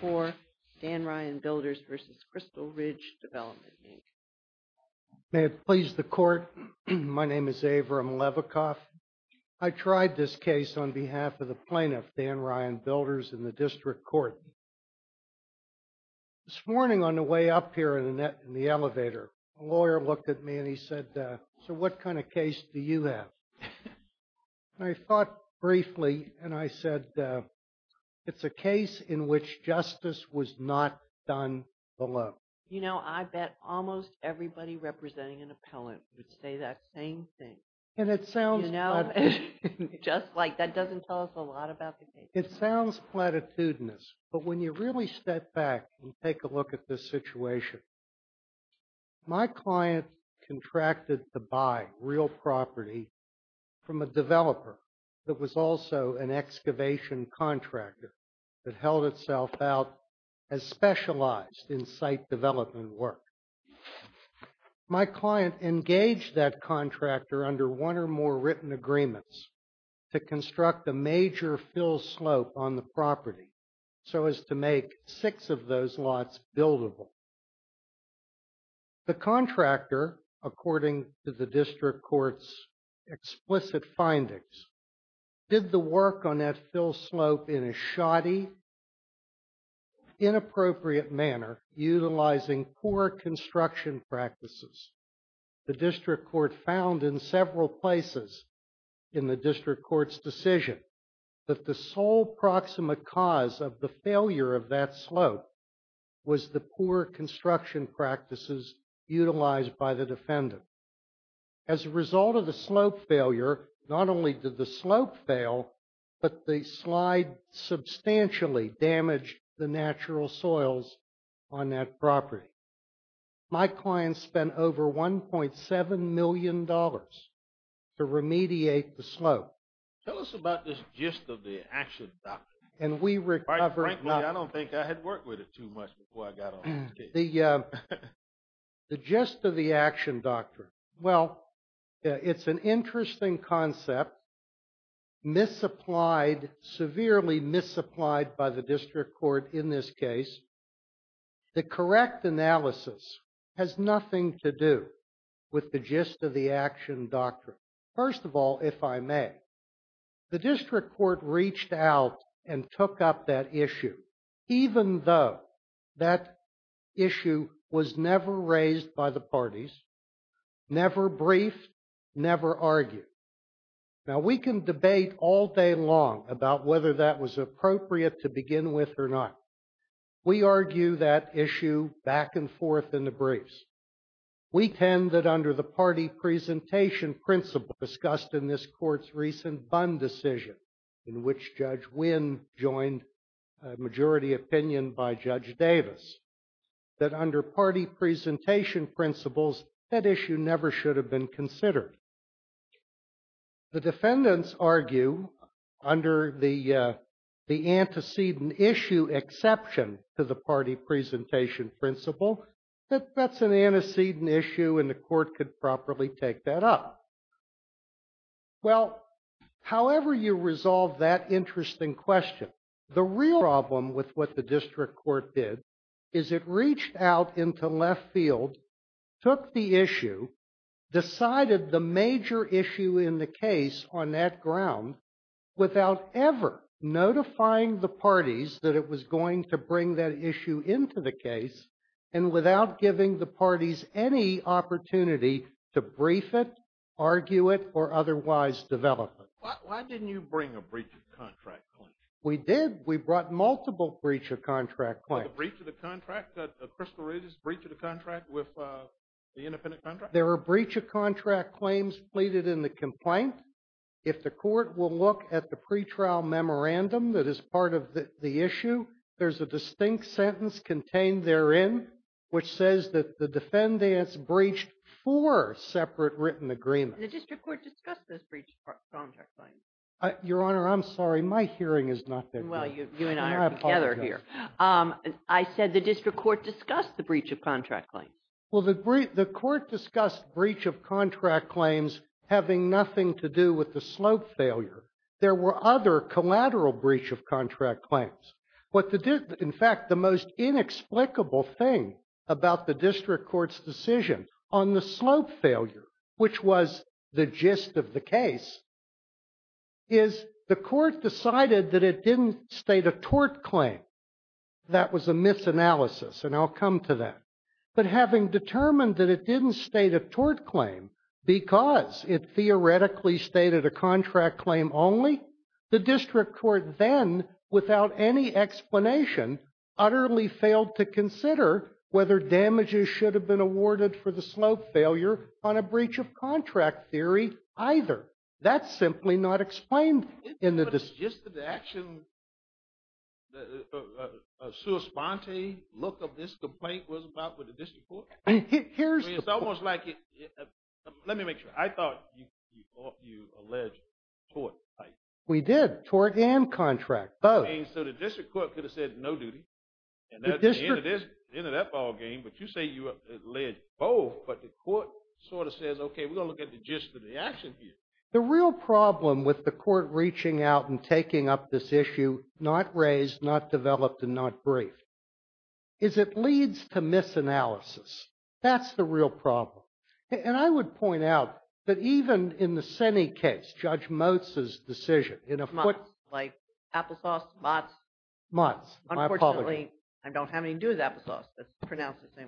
for Dan Ryan Builders v. Crystal Ridge Development, Inc. May it please the court, my name is Averam Levikoff. I tried this case on behalf of the plaintiff, Dan Ryan Builders, in the district court. This morning on the way up here in the elevator, a lawyer looked at me and he said, so what kind of case do you have? I thought briefly and I said, it's a case in which justice was not done below. You know, I bet almost everybody representing an appellant would say that same thing. And it sounds like... Just like that doesn't tell us a lot about the case. It sounds platitudinous, but when you really step back and take a look at this situation, my client contracted to buy real property from a developer that was also an excavation contractor that held itself out as specialized in site development work. My client engaged that contractor under one or more written agreements to construct a major fill slope on the property so as to make six of those lots buildable. The contractor, according to the district court's explicit findings, did the work on that fill slope in a shoddy, inappropriate manner, utilizing poor construction practices. The district court found in several places in the district court's decision that the sole proximate cause of the failure of that slope was the poor construction practices utilized by the defendant. As a result of the slope failure, not only did the slope fail, but the slide substantially damaged the natural soils on that property. My client spent over $1.7 million to remediate the slope. Tell us about this gist of the action, doctor. And we recovered not... Frankly, I don't think I had worked with it too much before I got on this case. The gist of the action, doctor. Well, it's an interesting concept, misapplied, severely misapplied by the district court in this case. The correct analysis has nothing to do with the gist of the action, doctor. First of all, if I may, the district court reached out and took up that issue, even though that issue was never raised by the parties, never briefed, never argued. Now, we can debate all day long about whether that was appropriate to begin with or not. We argue that issue back and forth in the briefs. We tend that under the party presentation principle discussed in this court's recent Bund decision, in which Judge Wynn joined a majority opinion by Judge Davis, that under party presentation principles, that issue never should have been considered. The defendants argue under the antecedent issue exception to the party presentation principle, that that's an antecedent issue and the court could properly take that up. Well, however you resolve that interesting question, the real problem with what the district court did is it reached out into left field, took the issue, decided the major issue in the case on that ground without ever notifying the parties that it was going to bring that issue into the case and without giving the parties any opportunity to brief it, argue it, or otherwise develop it. Why didn't you bring a breach of contract claim? We did. We brought multiple breach of contract claims. A breach of the contract? That Crystal Regis breached a contract with the independent contractor? There were breach of contract claims pleaded in the complaint. If the court will look at the pretrial memorandum that is part of the issue, there's a distinct sentence contained therein which says that the defendants breached four separate written agreements. The district court discussed those breach of contract claims. Your Honor, I'm sorry. My hearing is not that good. Well, you and I are together here. I said the district court discussed the breach of contract claims. Well, the court discussed breach of contract claims having nothing to do with the slope failure. There were other collateral breach of contract claims. In fact, the most inexplicable thing about the district court's decision on the slope failure, which was the gist of the case, is the court decided that it didn't state a tort claim. That was a misanalysis, and I'll come to that. But having determined that it didn't state a tort claim because it theoretically stated a contract claim only, the district court then, without any explanation, utterly failed to consider whether damages should have been awarded for the slope failure on a breach of contract theory either. That's simply not explained in the decision. But the gist of the action, a sua sponte look of this complaint was about with the district court? Here's the point. Let me make sure. I thought you alleged tort type. We did, tort and contract, both. So the district court could have said no duty. At the end of that ballgame, but you say you alleged both, but the court sort of says, okay, we're going to look at the gist of the action here. The real problem with the court reaching out and taking up this issue, not raised, not developed, and not briefed, is it leads to misanalysis. That's the real problem. And I would point out that even in the Senny case, Judge Motz's decision. Like applesauce, Motz? Motz. Unfortunately, I don't have anything to do with applesauce.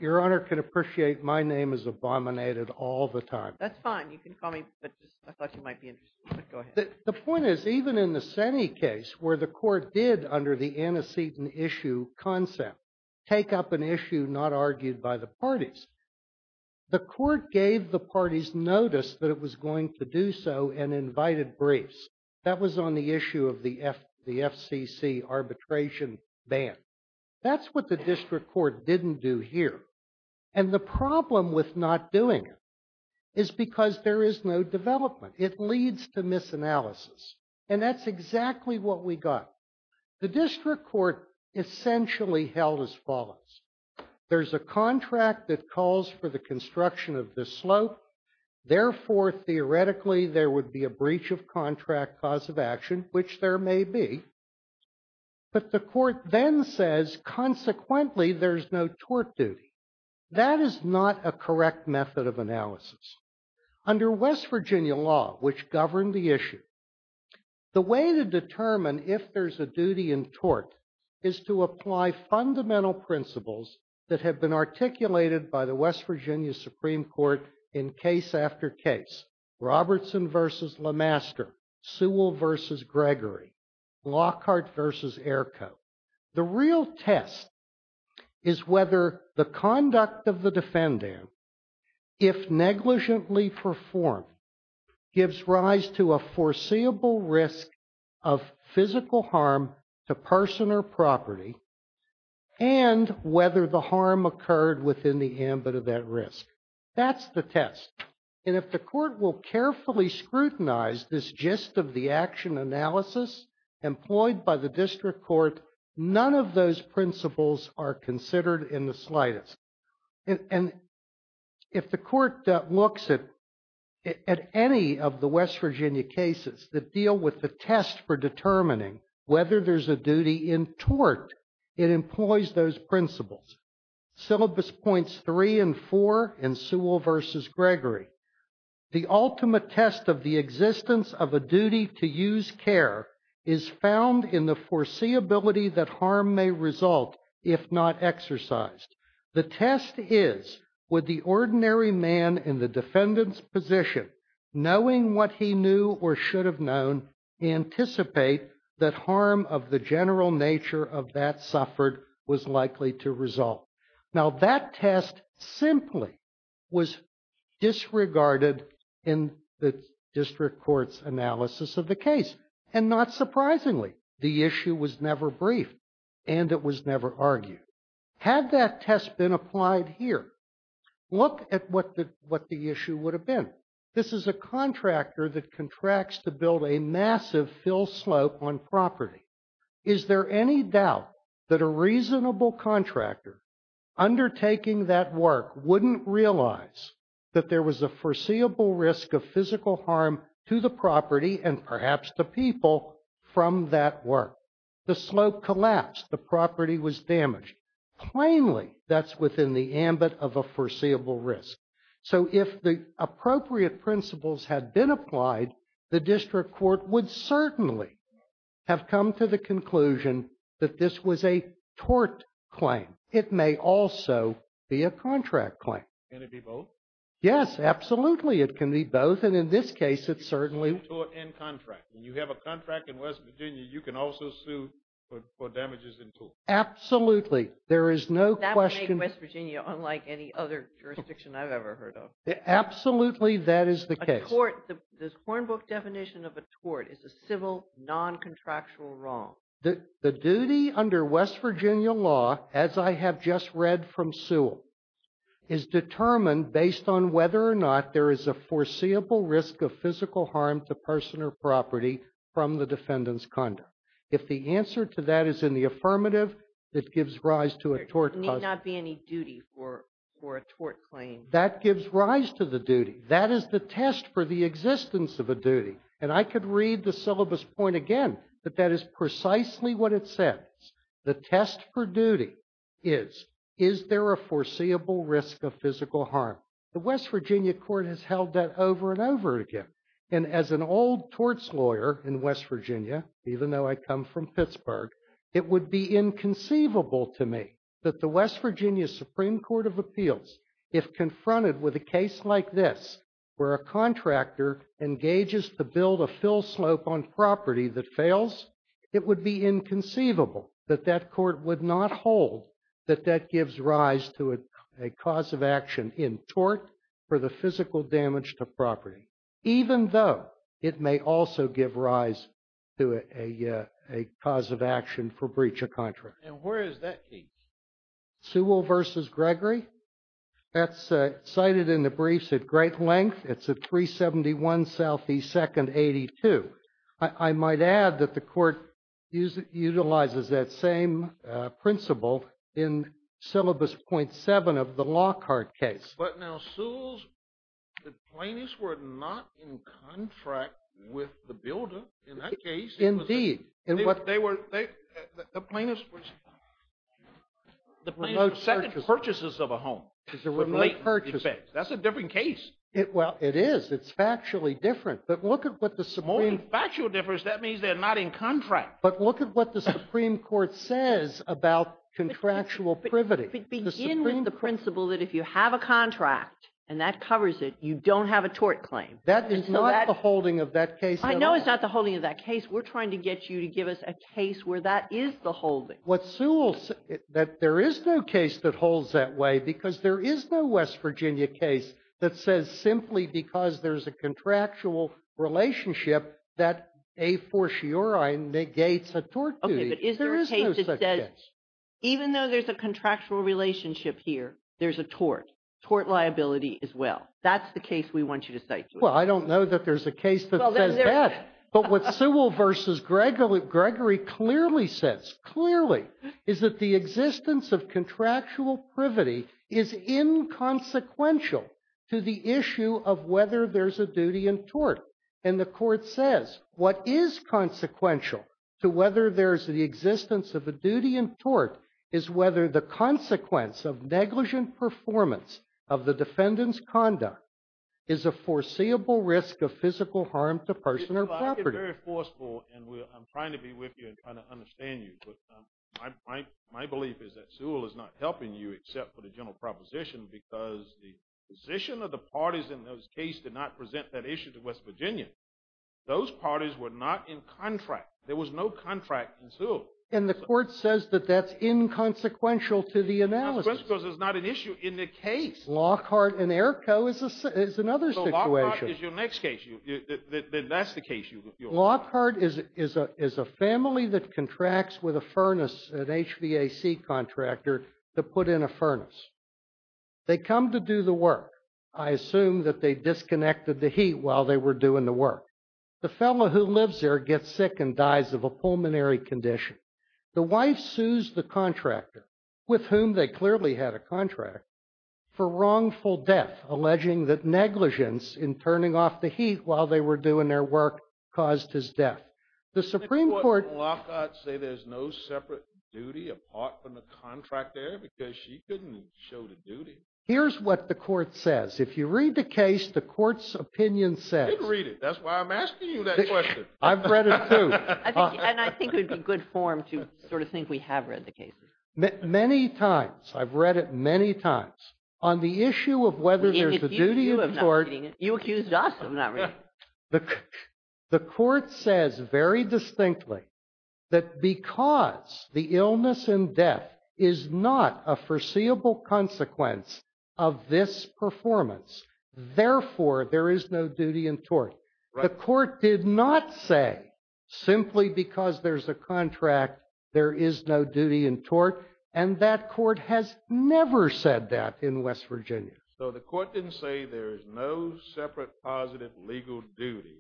Your Honor can appreciate my name is abominated all the time. That's fine. You can call me, but I thought you might be interested. The point is, even in the Senny case, where the court did, under the antecedent issue concept, take up an issue not argued by the parties, the court gave the parties notice that it was going to do so and invited briefs. That was on the issue of the FCC arbitration ban. That's what the district court didn't do here. And the problem with not doing it is because there is no development. It leads to misanalysis. And that's exactly what we got. The district court essentially held as follows. There's a contract that calls for the construction of the slope. Therefore, theoretically, there would be a breach of contract cause of action, which there may be. But the court then says, consequently, there's no tort duty. That is not a correct method of analysis. Under West Virginia law, which governed the issue, the way to determine if there's a duty in tort is to apply fundamental principles that have been articulated by the West Virginia Supreme Court in case after case. Robertson versus LeMaster. Sewell versus Gregory. Lockhart versus Airco. The real test is whether the conduct of the defendant, if negligently performed, gives rise to a foreseeable risk of physical harm to person or property, and whether the harm occurred within the ambit of that risk. That's the test. And if the court will carefully scrutinize this gist of the action analysis employed by the district court, none of those principles are considered in the slightest. And if the court looks at any of the West Virginia cases that deal with the determining whether there's a duty in tort, it employs those principles. Syllabus points three and four in Sewell versus Gregory. The ultimate test of the existence of a duty to use care is found in the foreseeability that harm may result if not exercised. The test is, would the ordinary man in the defendant's position, knowing what he knew or should have known, anticipate that harm of the general nature of that suffered was likely to result? Now that test simply was disregarded in the district court's analysis of the case. And not surprisingly, the issue was never briefed and it was never argued. Had that test been applied here, look at what the issue would have been. This is a contractor that contracts to build a massive fill slope on property. Is there any doubt that a reasonable contractor undertaking that work wouldn't realize that there was a foreseeable risk of physical harm to the property and perhaps the people from that work? The slope collapsed, the property was damaged. Plainly, that's within the ambit of a foreseeable risk. So if the appropriate principles had been applied, the district court would certainly have come to the conclusion that this was a tort claim. It may also be a contract claim. Can it be both? Yes, absolutely. It can be both. And in this case, it's certainly. Tort and contract. When you have a contract in West Virginia, you can also sue for damages in tort. Absolutely. There is no question. In West Virginia, unlike any other jurisdiction I've ever heard of. Absolutely. That is the case. The Hornbook definition of a tort is a civil, non-contractual wrong. The duty under West Virginia law, as I have just read from Sewell, is determined based on whether or not there is a foreseeable risk of physical harm to person or property from the defendant's conduct. If the answer to that is in the affirmative, it gives rise to a tort. There need not be any duty for a tort claim. That gives rise to the duty. That is the test for the existence of a duty. And I could read the syllabus point again, that that is precisely what it says. The test for duty is, is there a foreseeable risk of physical harm? The West Virginia court has held that over and over again. And as an old torts lawyer in West Virginia, even though I come from Pittsburgh, it would be inconceivable to me that the West Virginia Supreme Court of Appeals, if confronted with a case like this, where a contractor engages to build a fill slope on property that fails, it would be inconceivable that that court would not hold that that gives rise to a cause of action in tort for the physical damage to property, even though it may also give rise to a, a cause of action for breach of contract. And where is that case? Sewell versus Gregory. That's cited in the briefs at great length. It's a 371 Southeast second 82. I might add that the court uses, utilizes that same principle in syllabus 0.7 of the Lockhart case. But now Sewell's, the plaintiffs were not in contract with the builder in that case. Indeed. And what they were, the plaintiffs was the second purchases of a home. It's a remote purchase. That's a different case. Well, it is. It's factually different, but look at what the Somali factual difference. That means they're not in contract, but look at what the Supreme court says about contractual privity. The principle that if you have a contract and that covers it, you don't have a tort claim. That is not the holding of that case. I know it's not the holding of that case. We're trying to get you to give us a case where that is the whole thing. What Sewell said that there is no case that holds that way, because there is no West Virginia case that says simply because there's a contractual relationship that a for sure. Okay. Even though there's a contractual relationship here, there's a tort tort liability as well. That's the case we want you to say. Well, I don't know that there's a case that says that, but what Sewell versus Gregory Gregory clearly says clearly is that the existence of contractual privity is inconsequential to the issue of whether there's a duty in tort. And the court says what is consequential to whether there's the existence of a duty in tort is whether the consequence of negligent performance of the defendant's conduct is a foreseeable risk of physical harm to person or property. Very forceful. And I'm trying to be with you and trying to understand you. But my, my belief is that Sewell is not helping you except for the general proposition, because the position of the parties in those case did not present that issue to West Virginia. Those parties were not in contract. There was no contract in Sewell. And the court says that that's inconsequential to the analysis. Because there's not an issue in the case. Lockhart and Airco is another situation. Lockhart is your next case. That's the case. Lockhart is, is a, is a family that contracts with a furnace, an HVAC contractor to put in a furnace. They come to do the work. I assume that they disconnected the heat while they were doing the work. The fellow who lives there gets sick and dies of a pulmonary condition. The wife sues the contractor with whom they clearly had a contract for wrongful death, alleging that negligence in turning off the heat while they were doing their work caused his death. The Supreme court. Lockhart say there's no separate duty apart from the contract there because she couldn't show the duty. Here's what the court says. If you read the case, the court's opinion says read it. That's why I'm asking you that question. I've read it too. And I think it would be good form to sort of think we have read the case many times. I've read it many times on the issue of whether there's a duty of court. You accused us of not reading. The court says very distinctly that because the illness and death is not a performance, therefore there is no duty in tort. The court did not say simply because there's a contract, there is no duty in tort. And that court has never said that in West Virginia. So the court didn't say there is no separate positive legal duty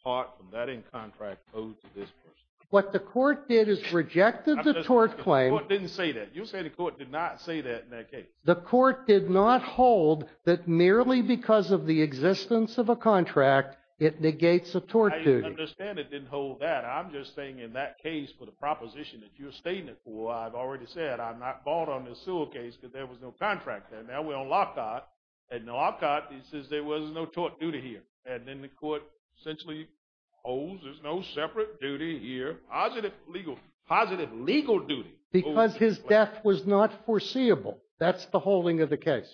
apart from that in contract code to this person. What the court did is rejected the tort claim. It didn't say that you say the court did not say that in that case, the court did not hold that merely because of the existence of a contract, it negates a tort duty. I understand it didn't hold that. I'm just saying in that case, for the proposition that you're stating it for, I've already said I'm not bought on this suitcase because there was no contract there. Now we're on lockout. And now I've got, he says there was no tort duty here. And then the court essentially holds there's no separate duty here. Positive legal, positive legal duty. Because his death was not foreseeable. That's the holding of the case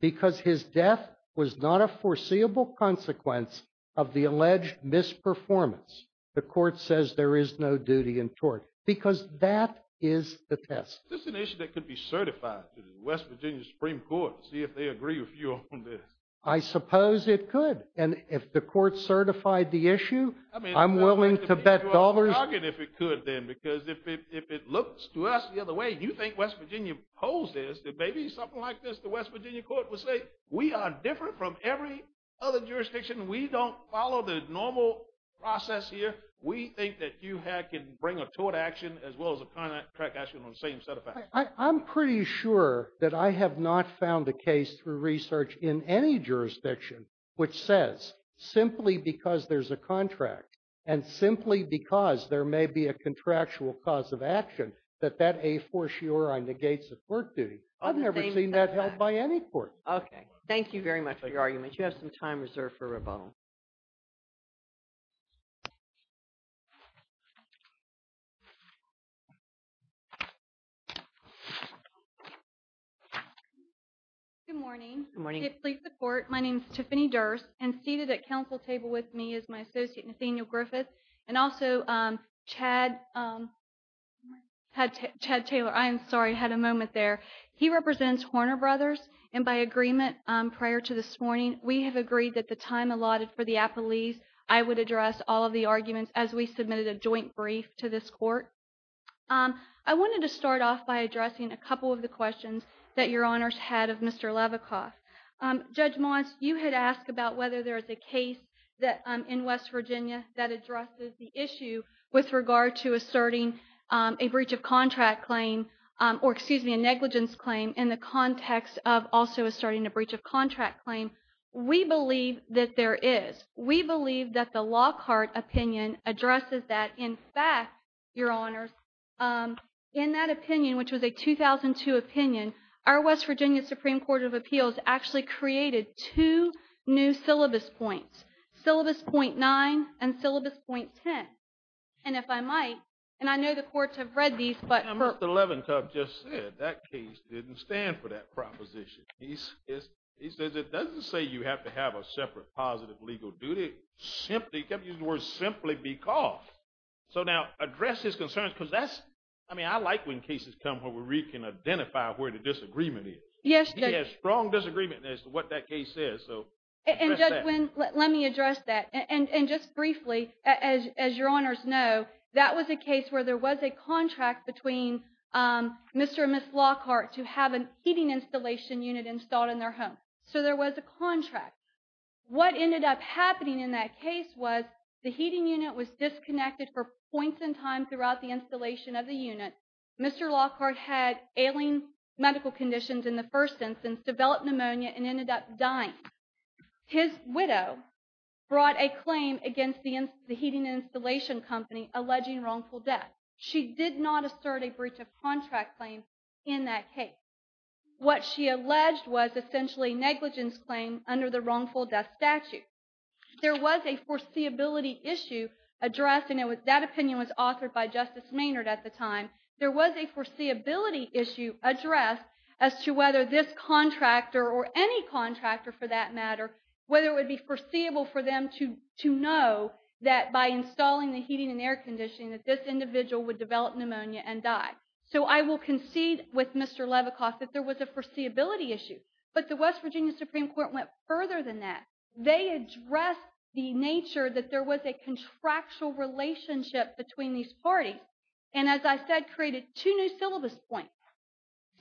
because his death was not a foreseeable consequence of the alleged misperformance. The court says there is no duty in tort because that is the test. This is an issue that could be certified to the West Virginia Supreme Court. See if they agree with you on this. I suppose it could. And if the court certified the issue, I'm willing to bet dollars. If it could then, because if it, if it looks to us the other way, and you think West Virginia holds this, that maybe something like this, the West Virginia court will say, we are different from every other jurisdiction. We don't follow the normal process here. We think that you can bring a tort action as well as a contract action on the same set of facts. I'm pretty sure that I have not found a case through research in any jurisdiction, which says simply because there's a contract and simply because there may be a contractual cause of action, that that a for sure I negate the court duty. I've never seen that held by any court. Okay. Thank you very much for your argument. You have some time reserved for rebuttal. Good morning. Good morning. Please support. My name is Tiffany Durst and seated at council table with me is my Ted Taylor. I am sorry. I had a moment there. He represents Horner brothers. And by agreement prior to this morning, we have agreed that the time allotted for the appellees, I would address all of the arguments as we submitted a joint brief to this court. I wanted to start off by addressing a couple of the questions that your honors had of Mr. Lavikoff. Judge Moss, you had asked about whether there is a case that in West Virginia that relates to a breach of contract claim or excuse me, a negligence claim in the context of also starting a breach of contract claim. We believe that there is, we believe that the Lockhart opinion addresses that. In fact, your honors in that opinion, which was a 2002 opinion, our West Virginia Supreme court of appeals actually created two new syllabus points, syllabus 0.9 and syllabus 0.10. And if I might, and I know the courts have read these, but Mr. Lavikoff just said that case didn't stand for that proposition. He's is, he says, it doesn't say you have to have a separate positive legal duty. Simply kept using the word simply because. So now address his concerns because that's, I mean, I like when cases come where we can identify where the disagreement is. Yes. He has strong disagreement as to what that case is. So let me address that. And, and just briefly as, as your honors know, that was a case where there was a contract between Mr. and Miss Lockhart to have an heating installation unit installed in their home. So there was a contract. What ended up happening in that case was the heating unit was disconnected for points in time throughout the installation of the unit. Mr. Lockhart had ailing medical conditions in the first instance, developed pneumonia and ended up dying. His widow brought a claim against the, the heating installation company alleging wrongful death. She did not assert a breach of contract claim in that case. What she alleged was essentially negligence claim under the wrongful death statute. There was a foreseeability issue addressing it with that opinion was authored by justice Maynard at the time. There was a foreseeability issue addressed as to whether this contractor or any contractor for that matter, whether it would be foreseeable for them to, to know that by installing the heating and air conditioning, that this individual would develop pneumonia and die. So I will concede with Mr. Levicoff that there was a foreseeability issue, but the West Virginia Supreme court went further than that. They addressed the nature that there was a contractual relationship between these parties. And as I said, created two new syllabus points,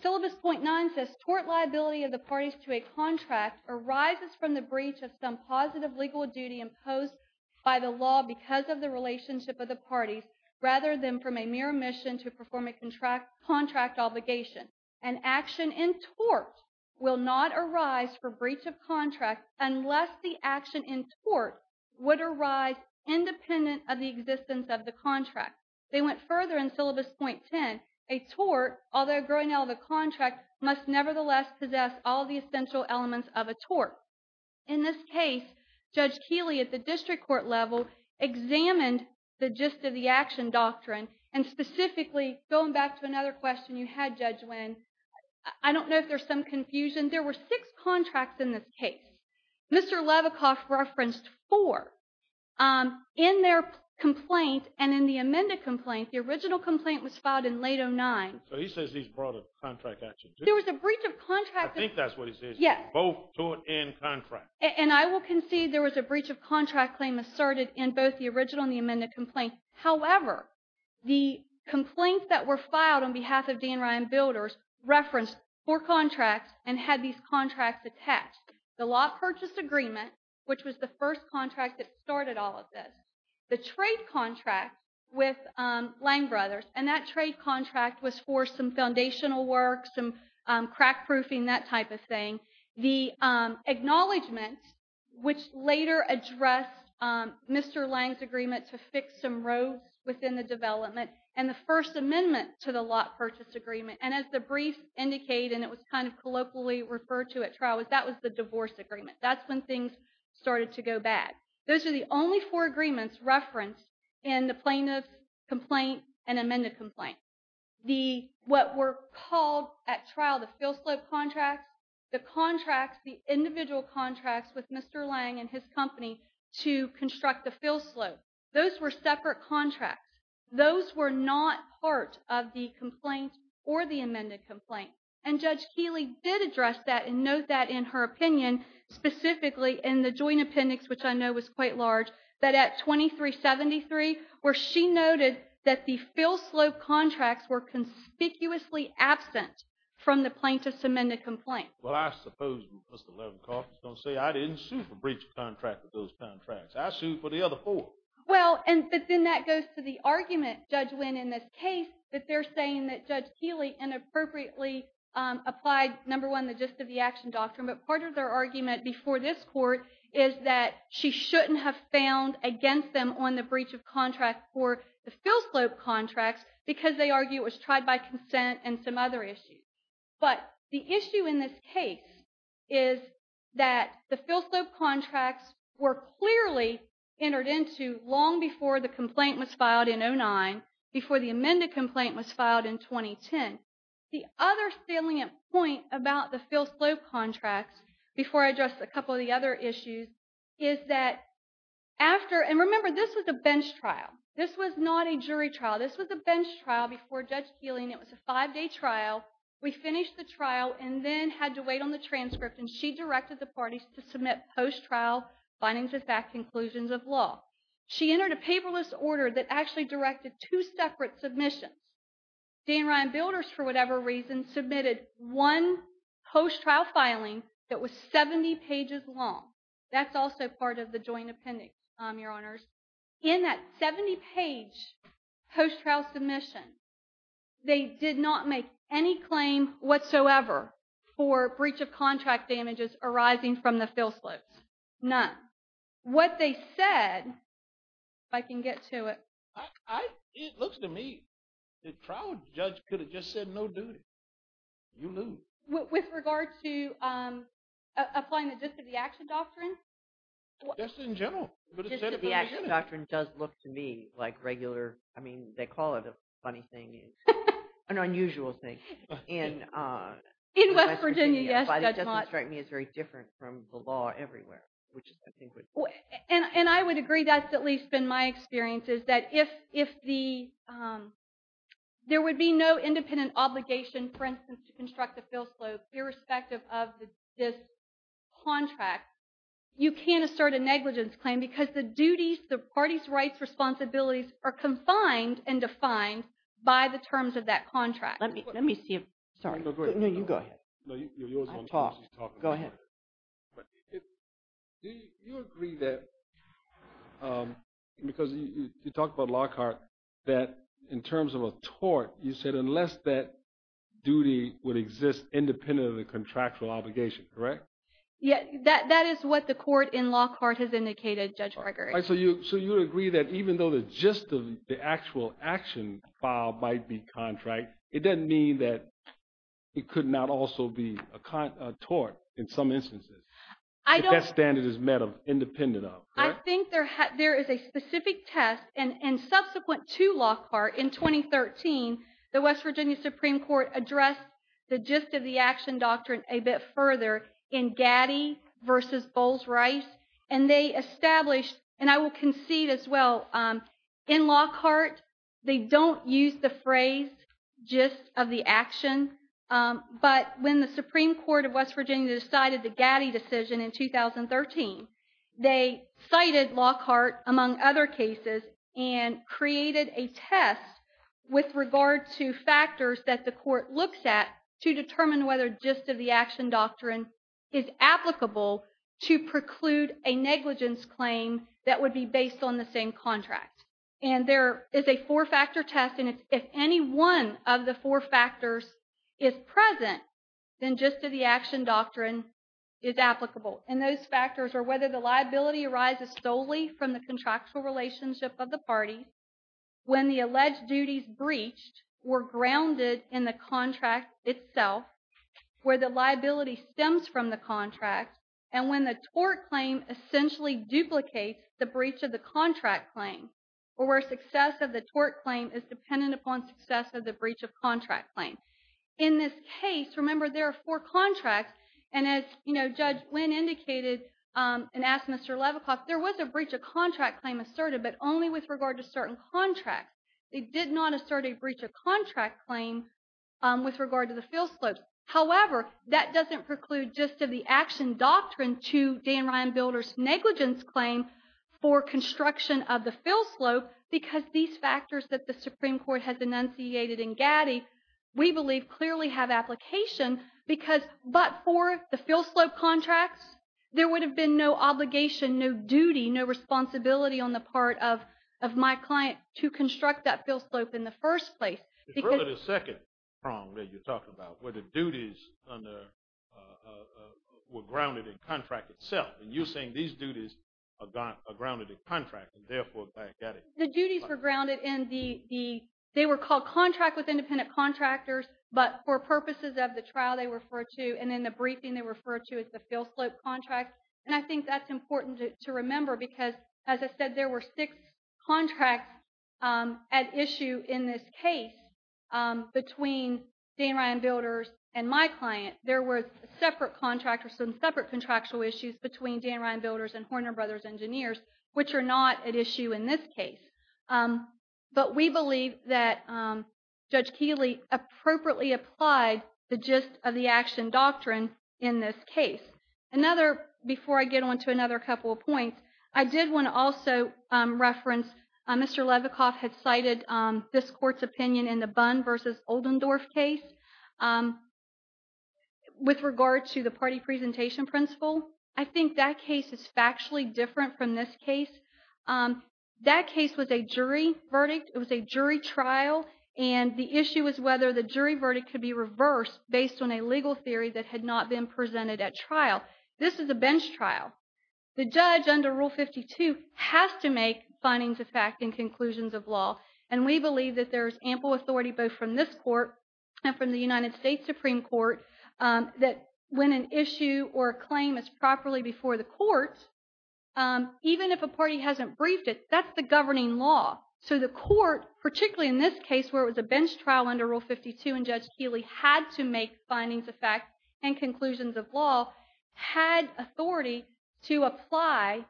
Syllabus 0.9 says tort liability of the parties to a contract arises from the breach of some positive legal duty imposed by the law because of the relationship of the parties rather than from a mere mission to perform a contract contract obligation and action in tort will not arise for breach of contract. Unless the action in sport would arise independent of the existence of the contract. They went further in syllabus 0.10, a tort, although growing out of a contract must nevertheless possess all the essential elements of a tort. In this case, judge Keely at the district court level examined the gist of the action doctrine. And specifically going back to another question you had judge when, I don't know if there's some confusion. There were six contracts in this case. Mr. Levicoff referenced four in their complaint. And in the amended complaint, the original complaint was filed in late 0.9. So he says he's brought a contract action. There was a breach of contract. I think that's what he says. Yeah. Both tort and contract. And I will concede there was a breach of contract claim asserted in both the original and the amended complaint. However, the complaints that were filed on behalf of Dan Ryan builders referenced four contracts and had these contracts attached the law purchase agreement, which was the first contract that started all of this, the trade contract with Lang brothers. And that trade contract was for some foundational work, some crack proofing, that type of thing. The acknowledgement, which later addressed Mr. Lang's agreement to fix some roads within the development and the first amendment to the lot purchase agreement. And as the brief indicate, and it was kind of colloquially referred to at trial was that was the divorce agreement. That's when things started to go bad. Those are the only four agreements referenced in the plaintiff complaint and amended complaint. The, what we're called at trial, the fill slope contracts, the contracts, the individual contracts with Mr. Lang and his company to construct the fill slope. Those were separate contracts. Those were not part of the complaint or the amended complaint. And judge Keely did address that and note that in her opinion, specifically in the joint appendix, which I know was quite large, but at 2373, where she noted that the fill slope contracts were conspicuously absent from the plaintiff's amended complaint. Well, I suppose Mr. Levenkoff is going to say, I didn't sue for breach of contract with those contracts. I sued for the other four. Well, and then that goes to the argument judge went in this case that they're saying that judge Keely inappropriately applied number one, the gist of the action doctrine. But part of their argument before this court is that she shouldn't have found against them on the breach of contract for the fill slope contracts because they argue it was tried by consent and some other issues. But the issue in this case is that the fill slope contracts were clearly entered into long before the complaint was filed in oh nine before the amended complaint was filed in 2010. The other salient point about the fill slope contracts before I address a couple of the other issues is that after, and remember this was a bench trial. This was not a jury trial. This was a bench trial before judge Keeling. It was a five day trial. We finished the trial and then had to wait on the transcript. And she directed the parties to submit post trial findings, the fact conclusions of law. She entered a paperless order that actually directed two separate submissions. Dan Ryan builders for whatever reason, submitted one post trial filing that was 70 pages long. That's also part of the joint appendix. I'm your honors in that 70 page post trial submission. They did not make any claim whatsoever for breach of contract damages arising from the fill slopes. None. What they said, I can get to it. It looks to me. The trial judge could have just said no duty. You lose with regard to applying the, just to the action doctrine. Just in general, but the action doctrine does look to me like regular. I mean, they call it a funny thing is an unusual thing in, in West Virginia. It's very different from the law everywhere, which is, and I would agree. That's at least been my experience is that if, if the there would be no independent obligation, for instance, to construct a fill slope, irrespective of this contract, you can assert a negligence claim because the duties, the party's rights responsibilities are confined and defined by the terms of that contract. Let me, let me see if, sorry, no, you go ahead. No, you're yours. Go ahead. You agree that because you talk about Lockhart, that in terms of a tort, you said, unless that duty would exist independent of the contractual obligation, correct? Yeah, that, that is what the court in Lockhart has indicated. Judge Gregory. So you, so you would agree that even though the gist of the actual action file might be contract, it doesn't mean that it could not also be a tort in some instances. I don't, that standard is metal independent of, I think there, there is a specific test and, and subsequent to Lockhart in 2013, the West Virginia Supreme court addressed the gist of the action doctrine a bit further in Gaddy versus Bowles rice. And they established, and I will concede as well in Lockhart, they don't use the phrase gist of the action. But when the Supreme court of West Virginia decided the Gaddy decision in 2013, they cited Lockhart among other cases and created a test with regard to factors that the court looks at to determine whether gist of the action doctrine is applicable to preclude a negligence claim that would be based on the same contract. And there is a four factor test. And it's, if any one of the four factors is present, then gist of the action doctrine is applicable. And those factors are whether the liability arises solely from the contractual relationship of the party. When the alleged duties breached were grounded in the contract itself, where the liability stems from the contract. And when the tort claim essentially duplicates the breach of the contract claim, or where success of the tort claim is dependent upon success of the breach of contract claim. In this case, remember there are four contracts. And as you know, judge when indicated and asked Mr. Levicoff, there was a breach of contract claim asserted, but only with regard to certain contracts. They did not assert a breach of contract claim with regard to the field slopes. However, that doesn't preclude gist of the action doctrine to Dan Ryan builders negligence claim for construction of the field slope, because these factors that the Supreme court has enunciated in Gaddy, we believe clearly have application because, but for the field slope contracts, there would have been no obligation, no duty, no responsibility on the part of, of my client to construct that field slope in the first place. The second prong that you talked about where the duties on the, uh, uh, were grounded in contract itself. And you're saying these duties are gone, are grounded in contract. And therefore the duties were grounded in the, the, they were called contract with independent contractors, but for purposes of the trial, they refer to, and then the briefing they refer to as the field slope contract. And I think that's important to remember, because as I said, there were six contracts, um, at issue in this case, um, between Dan Ryan builders and my client, there were separate contractors. Some separate contractual issues between Dan Ryan builders and Horner brothers engineers, which are not at issue in this case. Um, but we believe that, um, judge Keeley appropriately applied the gist of the action doctrine in this case. Another, before I get onto another couple of points, I did want to also, um, reference, uh, Mr. Levicoff had cited, um, this court's opinion in the bun versus Oldendorf case, um, with regard to the party presentation principle. I think that case is factually different from this case. Um, that case was a jury verdict. It was a jury trial. And the issue was whether the jury verdict could be reversed based on a legal theory that had not been presented at trial. This is a bench trial. The judge under rule 52 has to make findings of fact and conclusions of law. And we believe that there's ample authority both from this court and from the United States Supreme court, um, that when an issue or claim is properly before the court, um, even if a party hasn't briefed it, that's the governing law. So the court, particularly in this case where it was a bench trial under rule 52 and judge Keeley had to make findings of fact and conclusions of law had authority to apply,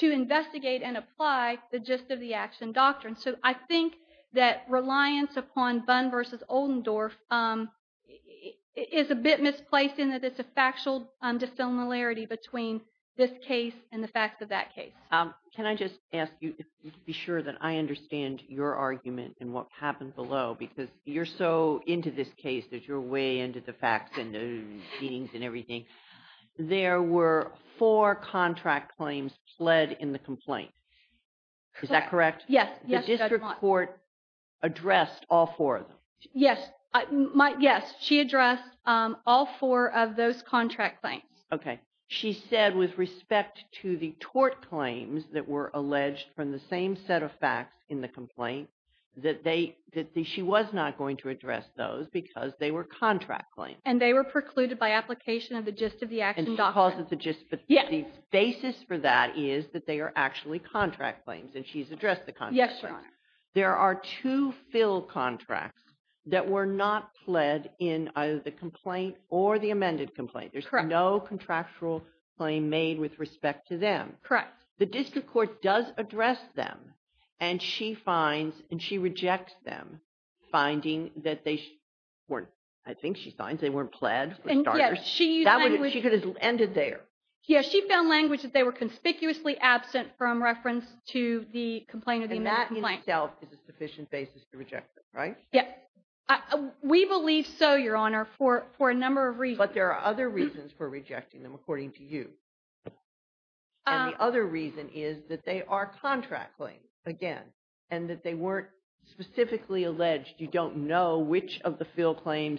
to investigate and apply the gist of the action doctrine. Um, so I think that reliance upon Bunn versus Oldendorf, um, is a bit misplaced in that it's a factual, um, dissimilarity between this case and the facts of that case. Um, can I just ask you to be sure that I understand your argument and what happened below, because you're so into this case that you're way into the facts and the meetings and everything. There were four contract claims pled in the complaint. Is that correct? Yes. The district court addressed all four of them. Yes. My, yes. She addressed, um, all four of those contract claims. Okay. She said with respect to the tort claims that were alleged from the same set of facts in the complaint that they, that she was not going to address those because they were contract claims and they were precluded by application of the gist of the action. She calls it the gist, but the basis for that is that they are actually contract claims and she's addressed the contract. There are two fill contracts that were not pled in either the complaint or the amended complaint. There's no contractual claim made with respect to them. Correct. The district court does address them and she finds, and she rejects them finding that they weren't, I think she finds they weren't pled. She could have ended there. Yeah. She found language that they were conspicuously absent from reference to the complaint or the amended complaint. And that in itself is a sufficient basis to reject them, right? Yep. We believe so, Your Honor, for a number of reasons. But there are other reasons for rejecting them according to you. And the other reason is that they are contract claims again, and that they weren't specifically alleged. You don't know which of the fill claims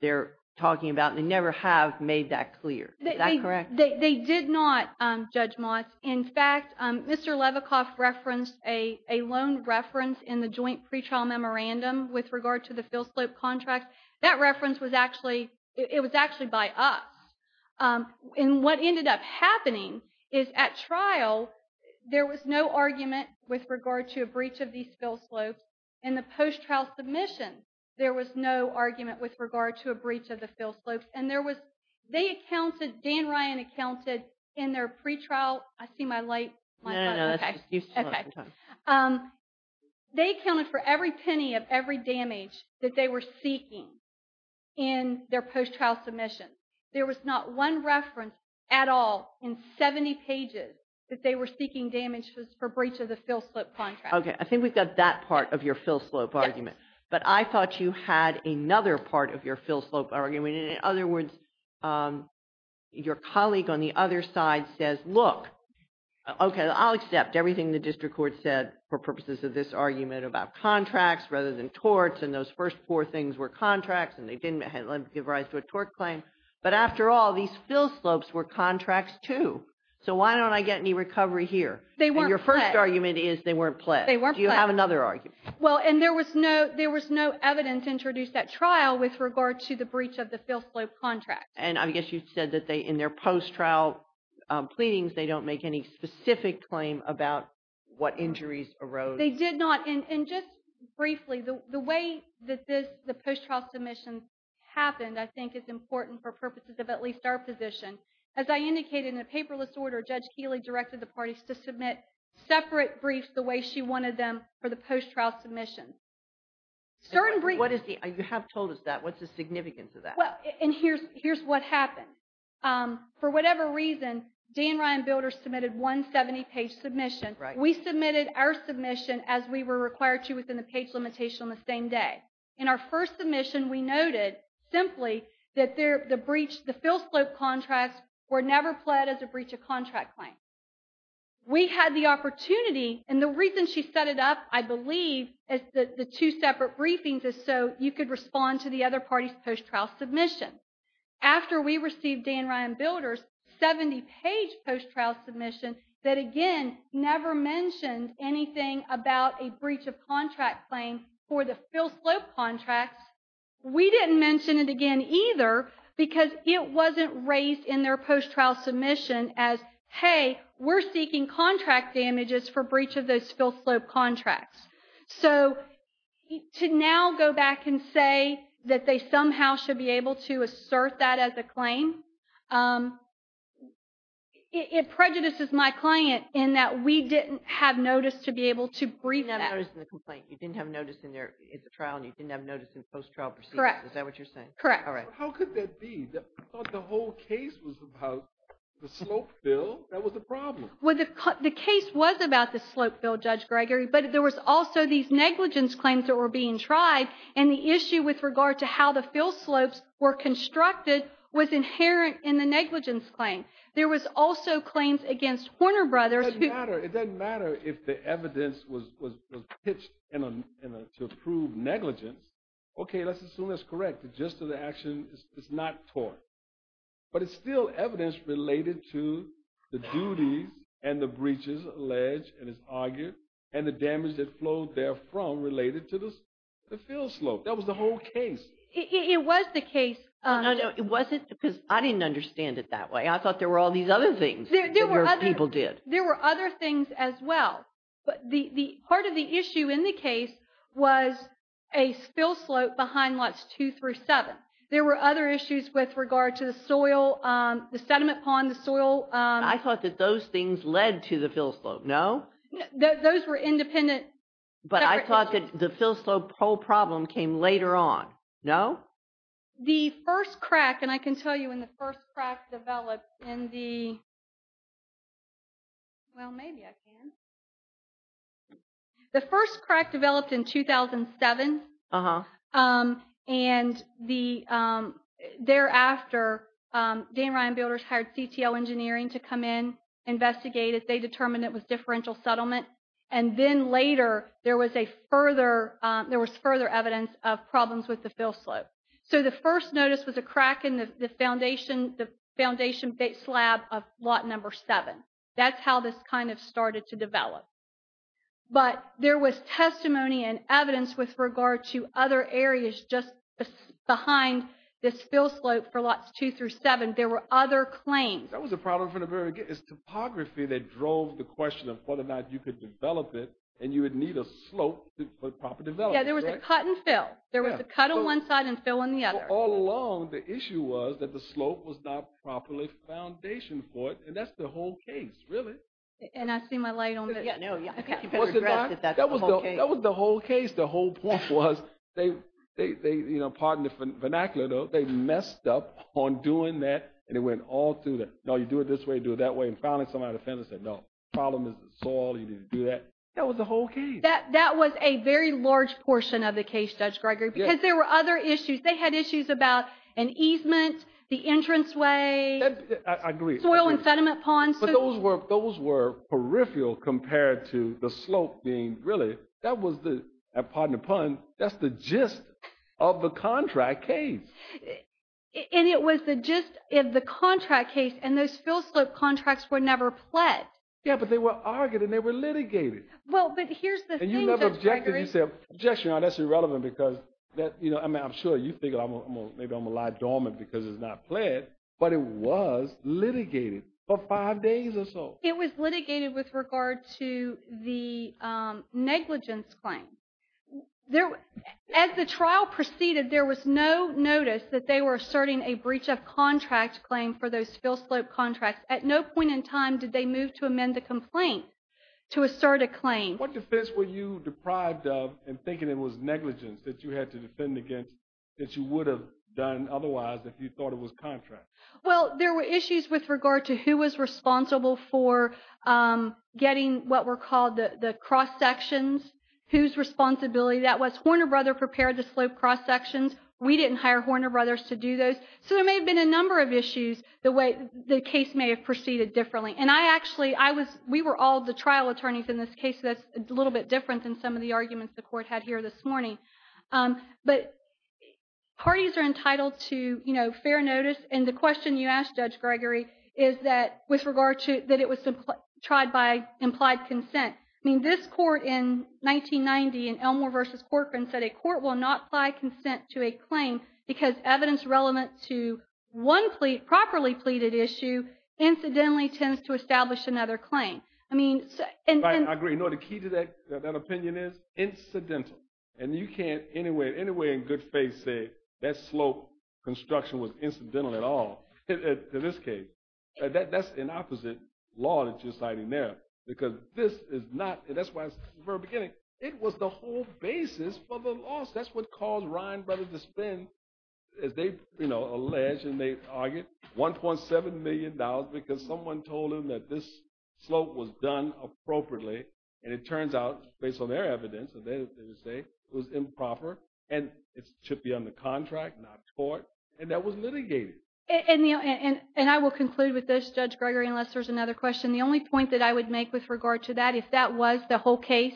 they're talking about. They never have made that clear. Is that correct? They did not, um, Judge Moss. In fact, um, Mr. Levicoff referenced a, a loan reference in the joint pretrial memorandum with regard to the fill slope contract. That reference was actually, it was actually by us. Um, and what ended up happening is at trial, there was no argument with regard to a breach of these fill slopes. And the post trial submission, there was no argument with regard to a breach of the fill slopes. And there was, they accounted, Dan Ryan accounted in their pretrial. I see my light. Okay. Um, they accounted for every penny of every damage that they were seeking. In their post trial submission, there was not one reference at all in 70 pages that they were seeking damages for breach of the fill slope contract. Okay. I think we've got that part of your fill slope argument, but I thought you had another part of your fill slope argument. And in other words, um, your colleague on the other side says, look, okay, I'll accept everything. The district court said for purposes of this argument about contracts rather than torts. And those first four things were contracts and they didn't give rise to a tort claim. But after all these fill slopes were contracts too. So why don't I get any recovery here? And your first argument is they weren't pledged. Do you have another argument? Well, and there was no, no evidence introduced that trial with regard to the breach of the fill slope contract. And I guess you said that they, in their post trial, um, pleadings, they don't make any specific claim about what injuries arose. They did not. And, and just briefly the, the way that this, the post trial submissions happened, I think it's important for purposes of at least our position. As I indicated in a paperless order, judge Keely directed the parties to submit separate briefs, the way she wanted them for the post trial submissions. Certain briefs. What is the, you have told us that what's the significance of that? Well, and here's, here's what happened. Um, for whatever reason, Dan Ryan builder submitted one 70 page submission, right? We submitted our submission as we were required to within the page limitation on the same day. In our first submission, we noted simply that there, the breach, the fill slope contracts were never pledged as a breach of contract claim. We had the opportunity. And the reason she set it up, I believe as the two separate briefings is so you could respond to the other parties post trial submission. After we received Dan Ryan builders, 70 page post trial submission that again, never mentioned anything about a breach of contract claim for the fill slope contracts. We didn't mention it again either because it wasn't raised in their post trial submission as, Hey, we're seeking contract damages for breach of those fill slope contracts. So to now go back and say that they somehow should be able to assert that as a claim. Um, it, it prejudices my client in that we didn't have noticed to be able to brief them. I was in the complaint. You didn't have noticed in there. It's a trial and you didn't have noticed in post trial. Correct. Is that what you're saying? Correct. All right. How could that be? I thought the whole case was about the slope bill. That was the problem. Well, the case was about the slope bill judge Gregory, but there was also these negligence claims that were being tried. And the issue with regard to how the fill slopes were constructed was inherent in the negligence claim. There was also claims against Horner brothers. It doesn't matter if the evidence was, was pitched in a, in a, to prove negligence. Okay. Let's assume that's correct. The gist of the action is not torn, but it's still evidence related to the duties and the breaches alleged and is argued. And the damage that flowed there from related to this, the field slope. That was the whole case. It was the case. It wasn't because I didn't understand it that way. I thought there were all these other things people did. There were other things as well. But the, the part of the issue in the case was a spill slope behind lots two through seven. There were other issues with regard to the soil, the sediment pond, the soil. I thought that those things led to the fill slope. No, those were independent. But I thought that the fill slope whole problem came later on. No. The first crack. And I can tell you when the first crack developed in the. Well, maybe I can. The first crack developed in 2007. And the thereafter, Dan Ryan builders hired CTO engineering to come in, investigate it. They determined it was differential settlement. And then later there was a further, there was further evidence of problems with the fill slope. So the first notice was a crack in the foundation, the foundation slab of lot number seven. That's how this kind of started to develop. But there was testimony and evidence with regard to other areas, just behind this spill slope for lots two through seven. There were other claims. That was a problem from the very topography that drove the question of whether or not you could develop it and you would need a slope to put proper development. There was a cut and fill. There was a cut on one side and fill in the other. All along. The issue was that the slope was not properly foundation for it. And that's the whole case really. And I see my light on. That was the whole case. The whole point was they, they, they, you know, pardon the vernacular. They messed up on doing that. And it went all through there. No, you do it this way, do it that way. And finally, somebody said, no problem is the soil. You need to do that. That was the whole case. That was a very large portion of the case. Judge Gregory, because there were other issues. They had issues about an easement, the entranceway. I agree. Soil and sediment ponds. But those were peripheral compared to the slope being really, that was the, pardon the pun, that's the gist of the contract case. And it was the gist of the contract case. And those fill slope contracts were never pledged. Yeah, but they were argued and they were litigated. Well, but here's the thing, Judge Gregory. And you never objected. You said, objection, that's irrelevant because, you know, I'm sure you think maybe I'm a lie dormant because it's not pledged. But it was litigated for five days or so. It was litigated with regard to the negligence claim. As the trial proceeded, there was no notice that they were asserting a breach of contract claim for those fill slope contracts. At no point in time did they move to amend the complaint to assert a claim. What defense were you deprived of in thinking it was negligence that you had to defend against that you would have done otherwise if you thought it was negligence? Well, there were issues with regard to who was responsible for getting what were called the cross sections, whose responsibility that was. Horner Brother prepared the slope cross sections. We didn't hire Horner Brothers to do those. So there may have been a number of issues the way the case may have proceeded differently. And I actually, I was, we were all the trial attorneys in this case. That's a little bit different than some of the arguments the court had here this morning. But parties are entitled to, you know, fair notice. And the question you asked Judge Gregory is that with regard to, that it was tried by implied consent. I mean, this court in 1990 and Elmore versus Corcoran said a court will not apply consent to a claim because evidence relevant to one plea, properly pleaded issue incidentally tends to establish another claim. I mean. I agree. No, the key to that, that opinion is incidental. And you can't anyway, in good faith say that slope construction was incidental at all. In this case, that's an opposite law that you're citing there because this is not, and that's why I said from the very beginning, it was the whole basis for the loss. That's what caused Ryan Brothers to spend, as they, you know, allege and they argue $1.7 million because someone told him that this slope was done appropriately. And it turns out based on their evidence, they would say it was improper and it should be on the contract, not court. And that was litigated. And I will conclude with this judge Gregory, unless there's another question. The only point that I would make with regard to that, if that was the whole case,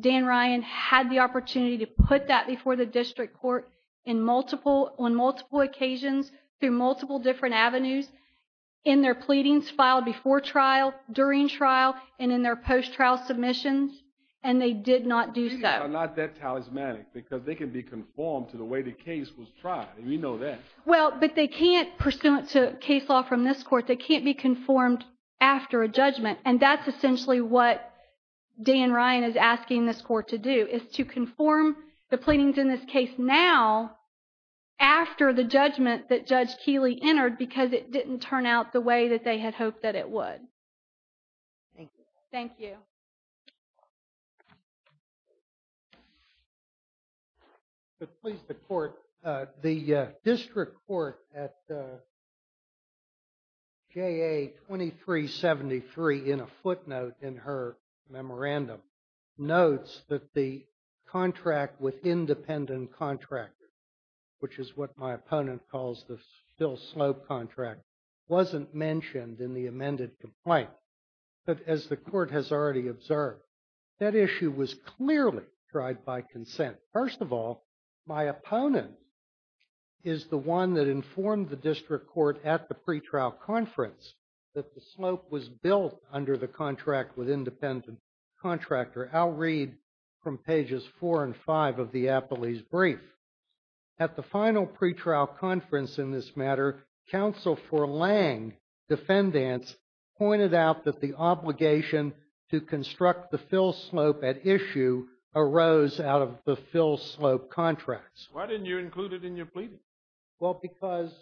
Dan Ryan had the opportunity to put that before the district court in multiple, on multiple occasions through multiple different avenues in their pleadings filed before trial during trial and in their post trial submissions. And they did not do so. Not that talismanic because they can be conformed to the way the case was tried. And we know that. Well, but they can't pursuant to case law from this court. They can't be conformed after a judgment. And that's essentially what Dan Ryan is asking this court to do is to conform the pleadings in this case. Now, after the judgment that judge Keely entered, because it didn't turn out the way that they had hoped that it would. Thank you. But please, the court, the district court at. J. A. 2373 in a footnote in her memorandum. Notes that the contract with independent contractors. Which is what my opponent calls the still slope contract. Wasn't mentioned in the amended complaint. But as the court has already observed. That issue was clearly tried by consent. First of all. My opponent. Is the one that informed the district court at the pretrial conference. That the slope was built under the contract with independent. Contractor Al Reed. From pages four and five of the Apple. He's brief. At the final pretrial conference in this matter. Counsel for laying defendants. Pointed out that the obligation. To construct the fill slope at issue. Arose out of the fill slope contracts. Why didn't you include it in your pleading? Well, because.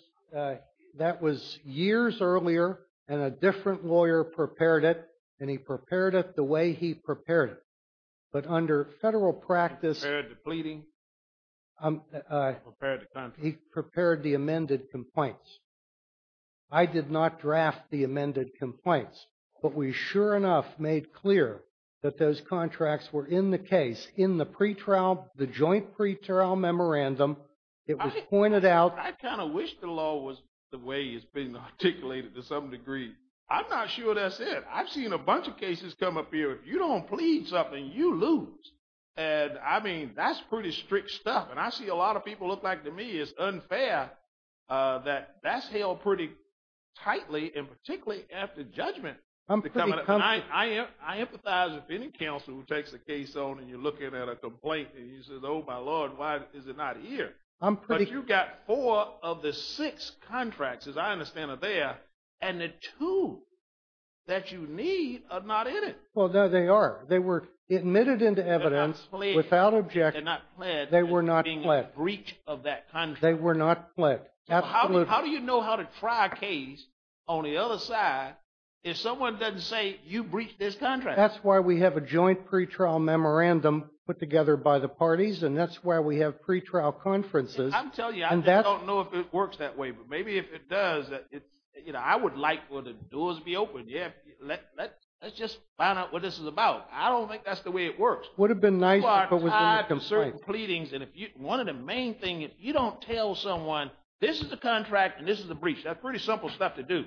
That was years earlier. And a different lawyer prepared it. And he prepared it the way he prepared it. But under federal practice. Pleading. He prepared the amended complaints. I did not draft the amended complaints. But we sure enough made clear. That those contracts were in the case in the pretrial. The joint pretrial memorandum. It was pointed out. I kind of wish the law was. The way it's been articulated to some degree. I'm not sure that's it. I've seen a bunch of cases come up here. If you don't plead something, you lose. And I mean, that's pretty strict stuff. And I see a lot of people look like to me it's unfair. That that's held pretty. Tightly and particularly after judgment. I empathize with any counsel who takes the case on. And you're looking at a complaint. And he says, oh, my Lord, why is it not here? You've got four of the six contracts. As I understand it there. And the two. That you need are not in it. Well, no, they are. They were admitted into evidence. Without objection. They were not being a breach of that. They were not. How do you know how to try a case on the other side? If someone doesn't say you breach this contract. That's why we have a joint pretrial memorandum put together by the parties. And that's why we have pretrial conferences. I'm telling you, I don't know if it works that way, but maybe if it does. I would like for the doors to be open. Let's just find out what this is about. I don't think that's the way it works. Would have been nice if it was in the complaint. You are tied to certain pleadings. And one of the main things, if you don't tell someone, this is the contract and this is the breach. That's pretty simple stuff to do.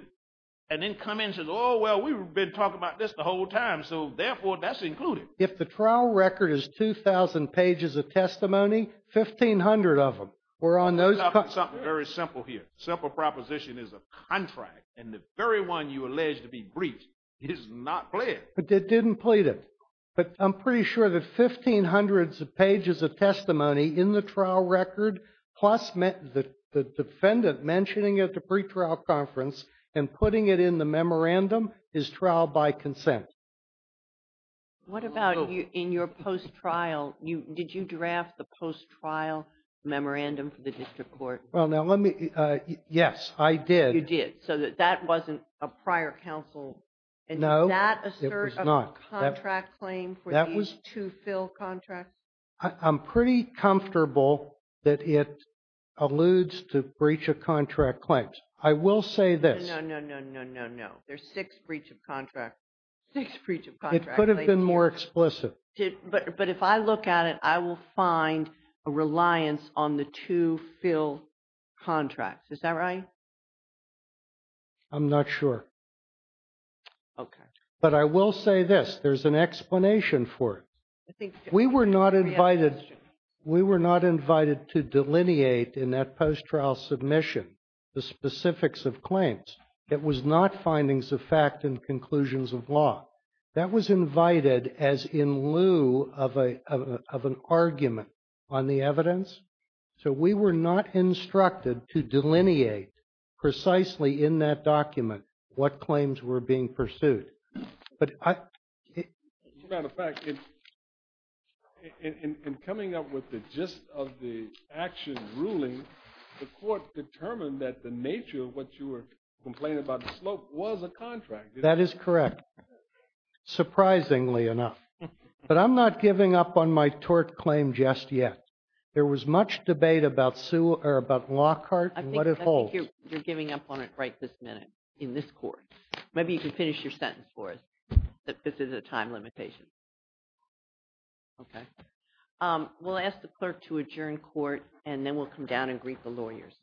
And then come in and say, oh, well, we've been talking about this the whole time. So, therefore, that's included. If the trial record is 2,000 pages of testimony, 1,500 of them were on those contracts. I'm talking about something very simple here. Simple proposition is a contract. And the very one you allege to be breached is not pled. But it didn't plead it. But I'm pretty sure that 1,500 pages of testimony in the trial record plus the defendant mentioning it at the pretrial conference and putting it in the memorandum is trial by consent. What about in your post-trial? Did you draft the post-trial memorandum for the district court? Well, now, let me. Yes, I did. You did. So that wasn't a prior counsel. No. Was that a cert of a contract claim for these two fill contracts? I'm pretty comfortable that it alludes to breach of contract claims. I will say this. No, no, no, no, no, no. There's six breach of contracts. Six breach of contracts. It could have been more explicit. But if I look at it, I will find a reliance on the two fill contracts. Is that right? I'm not sure. Okay. But I will say this. There's an explanation for it. We were not invited to delineate in that post-trial submission the specifics of claims. It was not findings of fact and conclusions of law. That was invited as in lieu of an argument on the evidence. So we were not instructed to delineate precisely in that document what claims were being pursued. As a matter of fact, in coming up with the gist of the action ruling, the court determined that the nature of what you were complaining about, the slope, was a contract. That is correct. Surprisingly enough. But I'm not giving up on my tort claim just yet. There was much debate about Lockhart and what it holds. I think you're giving up on it right this minute in this court. Maybe you can finish your sentence for us that this is a time limitation. Okay. We'll ask the clerk to adjourn court, and then we'll come down and greet the lawyers.